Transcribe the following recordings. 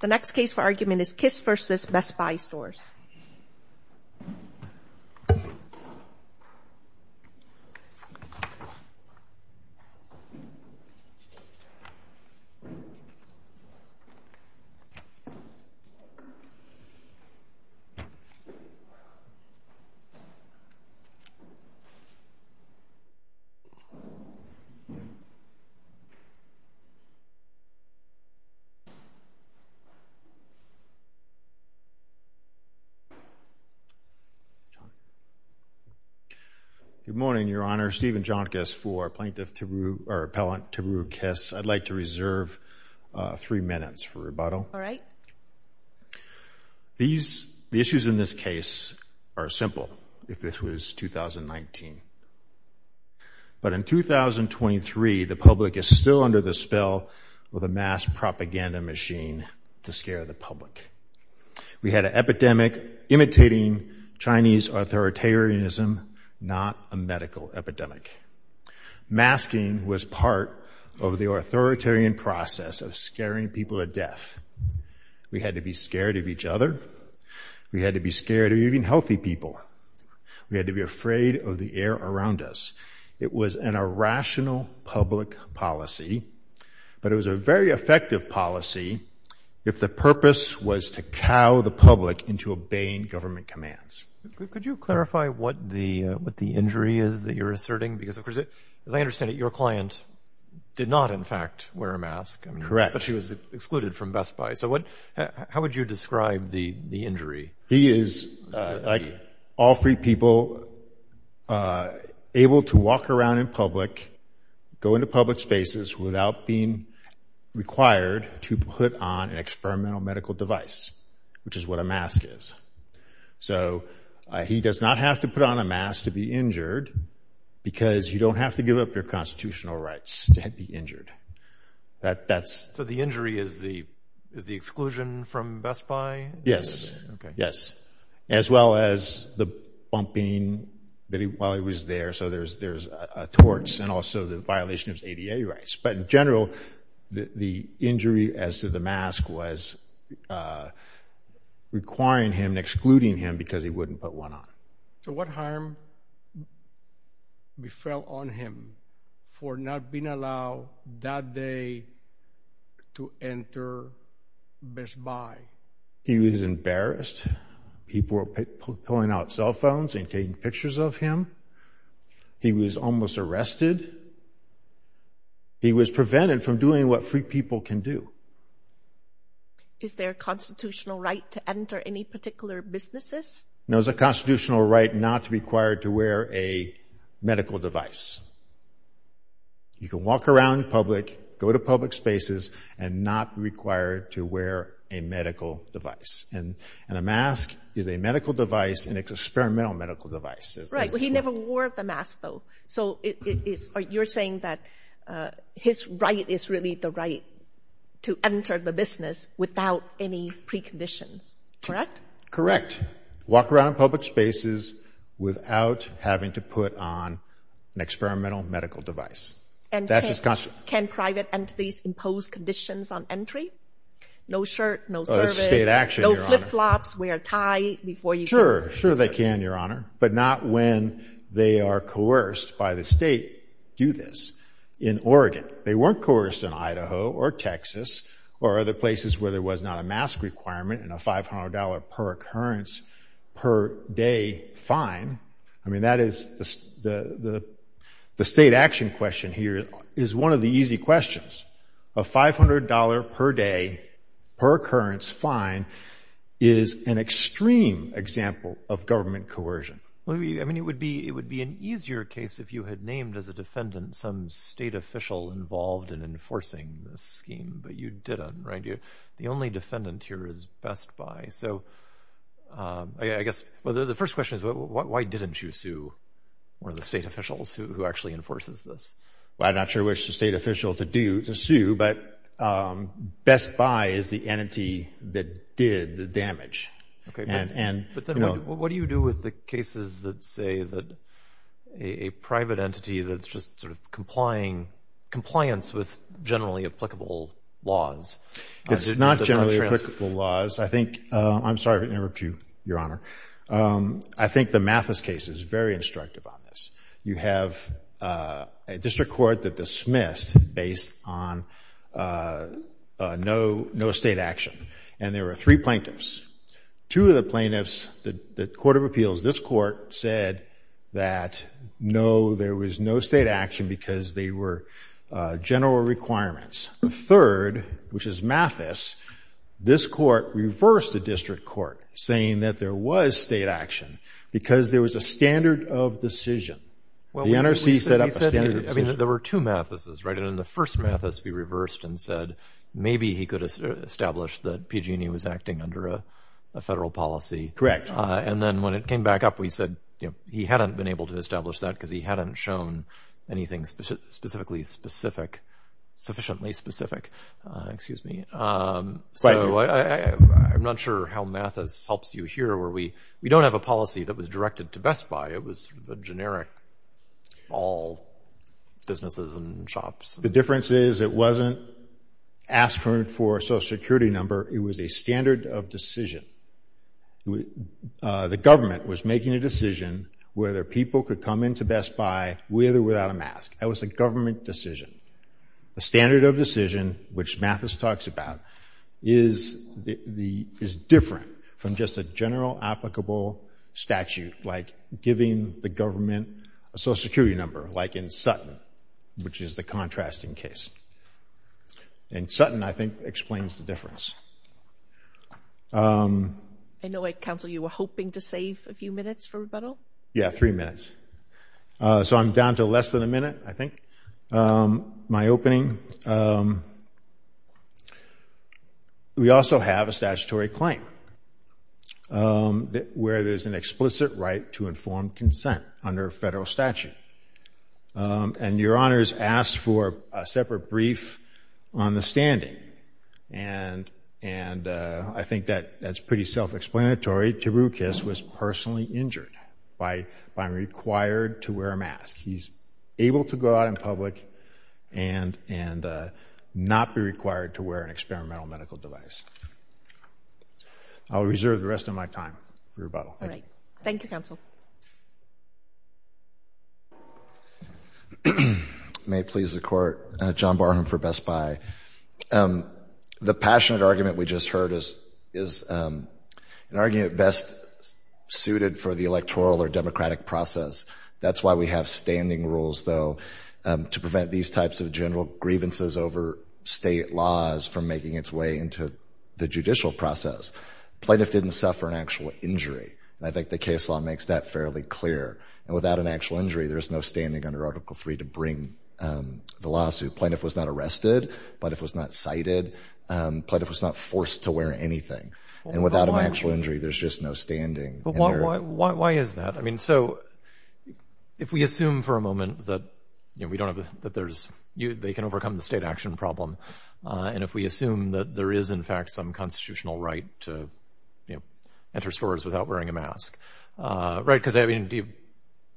The next case for argument is Kiss v. Best Buy Stores. Good morning, Your Honor. Stephen Jonkis for Plaintiff Tiberiu, or Appellant Tiberiu Kiss. I'd like to reserve three minutes for rebuttal. All right. The issues in this case are simple if this was 2019, but in 2023 the public is still under the spell of a mass propaganda machine to scare the public. We had an epidemic imitating Chinese authoritarianism, not a medical epidemic. Masking was part of the authoritarian process of scaring people to death. We had to be scared of each other. We had to be scared of even healthy people. We had to be afraid of the air around us. It was an irrational public policy, but it was a very effective policy if the purpose was to cow the public into obeying government commands. Could you clarify what the injury is that you're asserting? Because, of course, as I understand it, your client did not, in fact, wear a mask. Correct. But she was excluded from Best Buy. So how would you describe the injury? He is, like all free people, able to walk around in public, go into public spaces without being required to put on an experimental medical device, which is what a mask is. So he does not have to put on a mask to be injured because you don't have to give up your constitutional rights to be injured. So the injury is the exclusion from Best Buy? Yes. Okay. Yes. As well as the bumping while he was there. So there's a torts and also the violation of his ADA rights. But in general, the injury as to the mask was requiring him and excluding him because he wouldn't put one on. So what harm we felt on him for not being allowed that day to enter Best Buy? He was embarrassed. People were pulling out cell phones and taking pictures of him. He was almost arrested. He was prevented from doing what free people can do. Is there a constitutional right to enter any particular businesses? No, there's a constitutional right not to be required to wear a medical device. You can walk around public, go to public spaces and not be required to wear a medical device. And a mask is a medical device, an experimental medical device. Right. Well, he never wore the mask though. So you're saying that his right is really the right to enter the business without any preconditions. Correct? Correct. You can't walk around in public spaces without having to put on an experimental medical device. And can private entities impose conditions on entry? No shirt, no service, no flip-flops, wear a tie before you go. Sure. Sure they can, Your Honor. But not when they are coerced by the state to do this. In Oregon, they weren't coerced in Idaho or Texas or other places where there was not a mask requirement and a $500 per occurrence per day fine. I mean, that is the state action question here is one of the easy questions. A $500 per day per occurrence fine is an extreme example of government coercion. I mean, it would be an easier case if you had named as a defendant some state official involved in enforcing this scheme, but you didn't, right? The only defendant here is Best Buy. So I guess the first question is, why didn't you sue one of the state officials who actually enforces this? Well, I'm not sure which state official to sue, but Best Buy is the entity that did the damage. Okay. But then what do you do with the cases that say that a private entity that's just sort of complying, compliance with generally applicable laws? It's not generally applicable laws. I think, I'm sorry to interrupt you, Your Honor. I think the Mathis case is very instructive on this. You have a district court that dismissed based on no state action. And there were three plaintiffs. Two of the plaintiffs, the court of appeals, this court said that no, there was no state action because they were general requirements. The third, which is Mathis, this court reversed the district court saying that there was state action because there was a standard of decision. The NRC set up a standard of decision. I mean, there were two Mathises, right? And in the first Mathis, we reversed and said, maybe he could establish that PG&E was acting under a federal policy. Correct. And then when it came back up, we said, you know, he hadn't been able to establish that because he hadn't shown anything specifically specific, sufficiently specific, excuse me. So I'm not sure how Mathis helps you here where we don't have a policy that was directed to Best Buy. It was generic, all businesses and shops. The difference is it wasn't asking for a social security number. It was a standard of decision. The government was making a decision whether people could come into Best Buy with or without a mask. That was a government decision. The standard of decision, which Mathis talks about, is different from just a general applicable statute like giving the government a social security number, like in Sutton, which is the contrasting case. And Sutton, I think, explains the difference. I know, Counsel, you were hoping to save a few minutes for rebuttal. Yeah, three minutes. So I'm down to less than a minute, I think, my opening. We also have a statutory claim where there's an explicit right to informed consent under a federal statute. And Your Honors asked for a separate brief on the standing, and I think that's pretty self-explanatory. Taroukis was personally injured by being required to wear a mask. He's able to go out in public and not be required to wear an experimental medical device. I'll reserve the rest of my time for rebuttal. All right. Thank you, Counsel. May it please the Court, John Barham for Best Buy. The passionate argument we just heard is an argument best suited for the electoral or democratic process. That's why we have standing rules, though, to prevent these types of general grievances over state laws from making its way into the judicial process. Plaintiff didn't suffer an actual injury, and I think the case law makes that fairly clear. And without an actual injury, there's no standing under Article III to bring the lawsuit. Plaintiff was not arrested. Plaintiff was not cited. Plaintiff was not forced to wear anything. And without an actual injury, there's just no standing. Why is that? I mean, so, if we assume for a moment that, you know, we don't have, that there's, they can overcome the state action problem, and if we assume that there is, in fact, some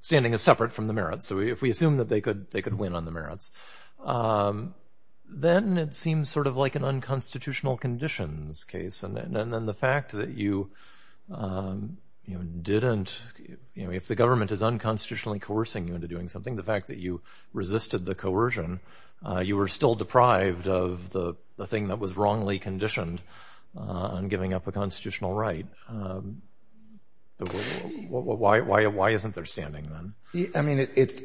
standing is separate from the merits, so if we assume that they could win on the merits, then it seems sort of like an unconstitutional conditions case. And then the fact that you, you know, didn't, you know, if the government is unconstitutionally coercing you into doing something, the fact that you resisted the coercion, you were still deprived of the thing that was wrongly conditioned on giving up a constitutional right, why isn't there standing, then? I mean, it, it,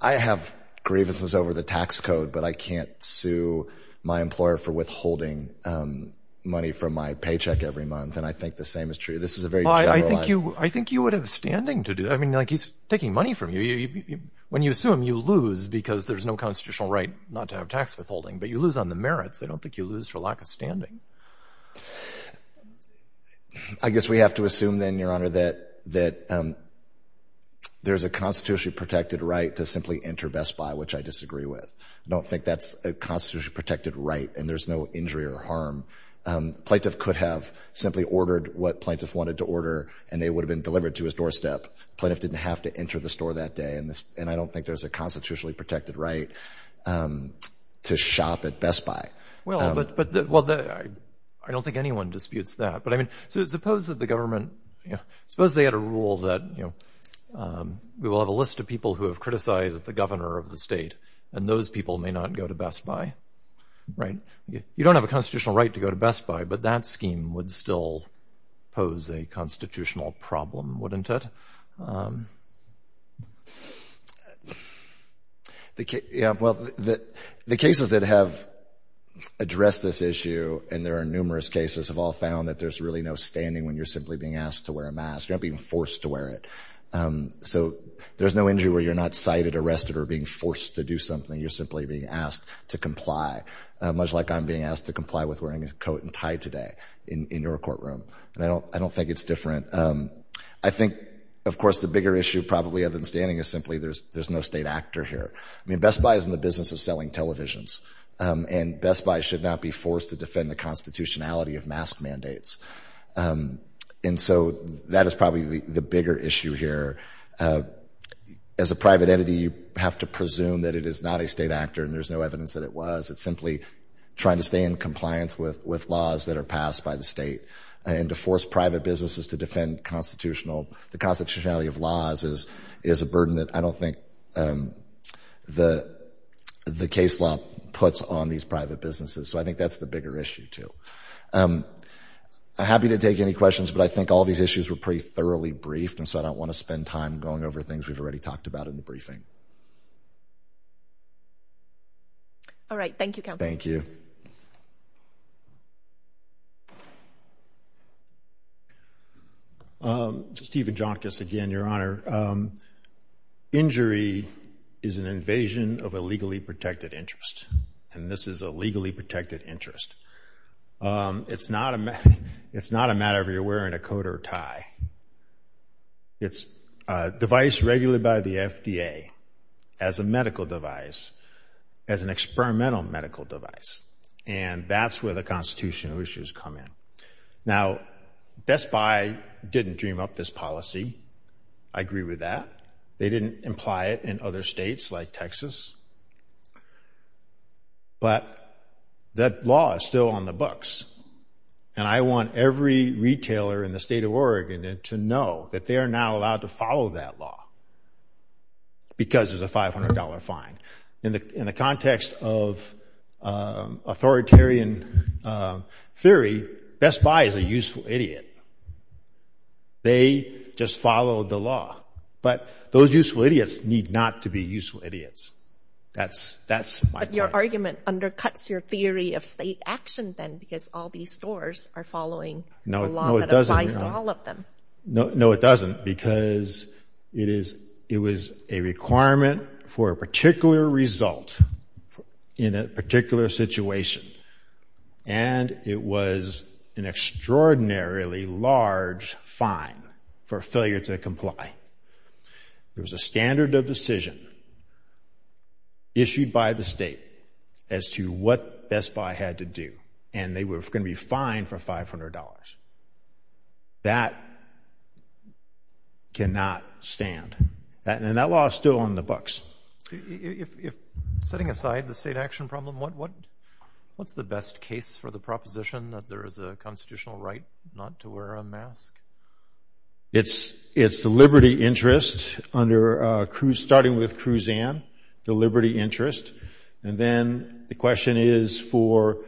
I have grievances over the tax code, but I can't sue my employer for withholding money from my paycheck every month, and I think the same is true. This is a very generalized— Well, I think you, I think you would have standing to do, I mean, like, he's taking money from you. When you sue him, you lose because there's no constitutional right not to have tax withholding, but you lose on the merits. I don't think you lose for lack of standing. I guess we have to assume, then, Your Honor, that, that there's a constitutionally protected right to simply enter Best Buy, which I disagree with. I don't think that's a constitutionally protected right, and there's no injury or harm. A plaintiff could have simply ordered what a plaintiff wanted to order, and they would have been delivered to his doorstep. Plaintiff didn't have to enter the store that day, and I don't think there's a constitutionally protected right to shop at Best Buy. Well, but, but, well, I don't think anyone disputes that, but I mean, suppose that the government, you know, suppose they had a rule that, you know, we will have a list of people who have criticized the governor of the state, and those people may not go to Best Buy, right? You don't have a constitutional right to go to Best Buy, but that scheme would still pose a constitutional problem, wouldn't it? The, yeah, well, the, the cases that have addressed this issue, and there are numerous cases, have all found that there's really no standing when you're simply being asked to wear a mask. You're not being forced to wear it. So there's no injury where you're not cited, arrested, or being forced to do something. You're simply being asked to comply, much like I'm being asked to comply with wearing a coat and tie today in, in your courtroom, and I don't, I don't think it's different. I think, of course, the bigger issue probably other than standing is simply there's, there's no state actor here. I mean, Best Buy is in the business of selling televisions, and Best Buy should not be forced to defend the constitutionality of mask mandates, and so that is probably the bigger issue here. As a private entity, you have to presume that it is not a state actor, and there's no evidence that it was. It's simply trying to stay in compliance with, with laws that are passed by the state, and to force private businesses to defend constitutional, the constitutionality of laws is, is a burden that I don't think the, the case law puts on these private businesses. So I think that's the bigger issue, too. I'm happy to take any questions, but I think all these issues were pretty thoroughly briefed, and so I don't want to spend time going over things we've already talked about in the briefing. All right. Thank you, Counselor. Steve Ajankas again, Your Honor. Injury is an invasion of a legally protected interest, and this is a legally protected interest. It's not a, it's not a matter of you're wearing a coat or a tie. It's a device regulated by the FDA as a medical device, as an experimental medical device, and that's where the constitutional issues come in. Now, Best Buy didn't dream up this policy. I agree with that. They didn't imply it in other states like Texas, but that law is still on the books, and I want every retailer in the state of Oregon to know that they are not allowed to follow that law because it's a $500 fine. In the context of authoritarian theory, Best Buy is a useful idiot. They just followed the law, but those useful idiots need not to be useful idiots. That's my point. But your argument undercuts your theory of state action then because all these stores are following the law that applies to all of them. No, it doesn't because it is, it was a requirement for a particular result in a particular situation, and it was an extraordinarily large fine for failure to comply. There was a standard of decision issued by the state as to what Best Buy had to do, and they were going to be fined for $500. That cannot stand, and that law is still on the books. If, setting aside the state action problem, what's the best case for the proposition that there is a constitutional right not to wear a mask? It's the liberty interest under, starting with Kruzan, the liberty interest, and then the question is for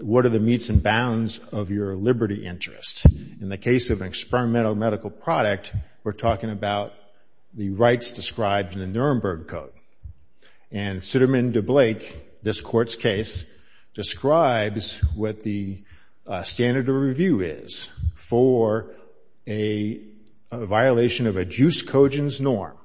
what are the meets and bounds of your liberty interest? In the case of an experimental medical product, we're talking about the rights described in the Nuremberg Code, and Sitterman-DeBlake, this court's case, describes what the standard of review is for a violation of a juice cogent's norm,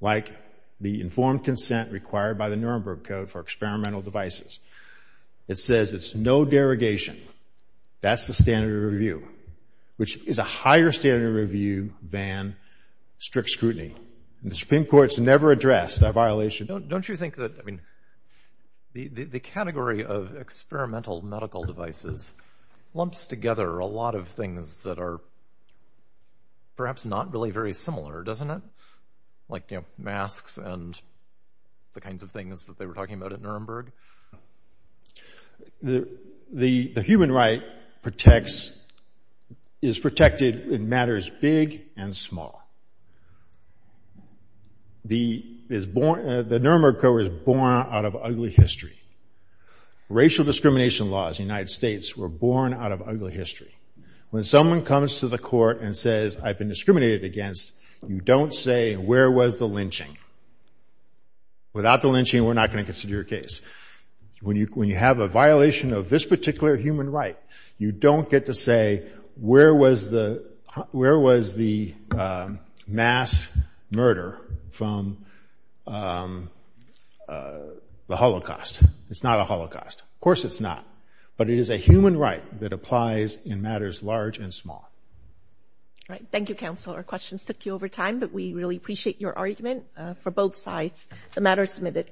like the informed consent required by the Nuremberg Code for experimental devices. It says it's no derogation. That's the standard of review, which is a higher standard of review than strict scrutiny. The Supreme Court's never addressed that violation. Don't you think that, I mean, the category of experimental medical devices lumps together a lot of things that are perhaps not really very similar, doesn't it? Like masks and the kinds of things that they were talking about at Nuremberg? The human right is protected in matters big and small. The Nuremberg Code was born out of ugly history. Racial discrimination laws in the United States were born out of ugly history. When someone comes to the court and says, I've been discriminated against, you don't say, where was the lynching? Without the lynching, we're not going to consider your case. When you have a violation of this particular human right, you don't get to say, where was the mass murder from the Holocaust? It's not a Holocaust. Of course it's not. But it is a human right that applies in matters large and small. All right. Thank you, counsel. Our questions took you over time, but we really appreciate your argument for both sides. The matter is submitted.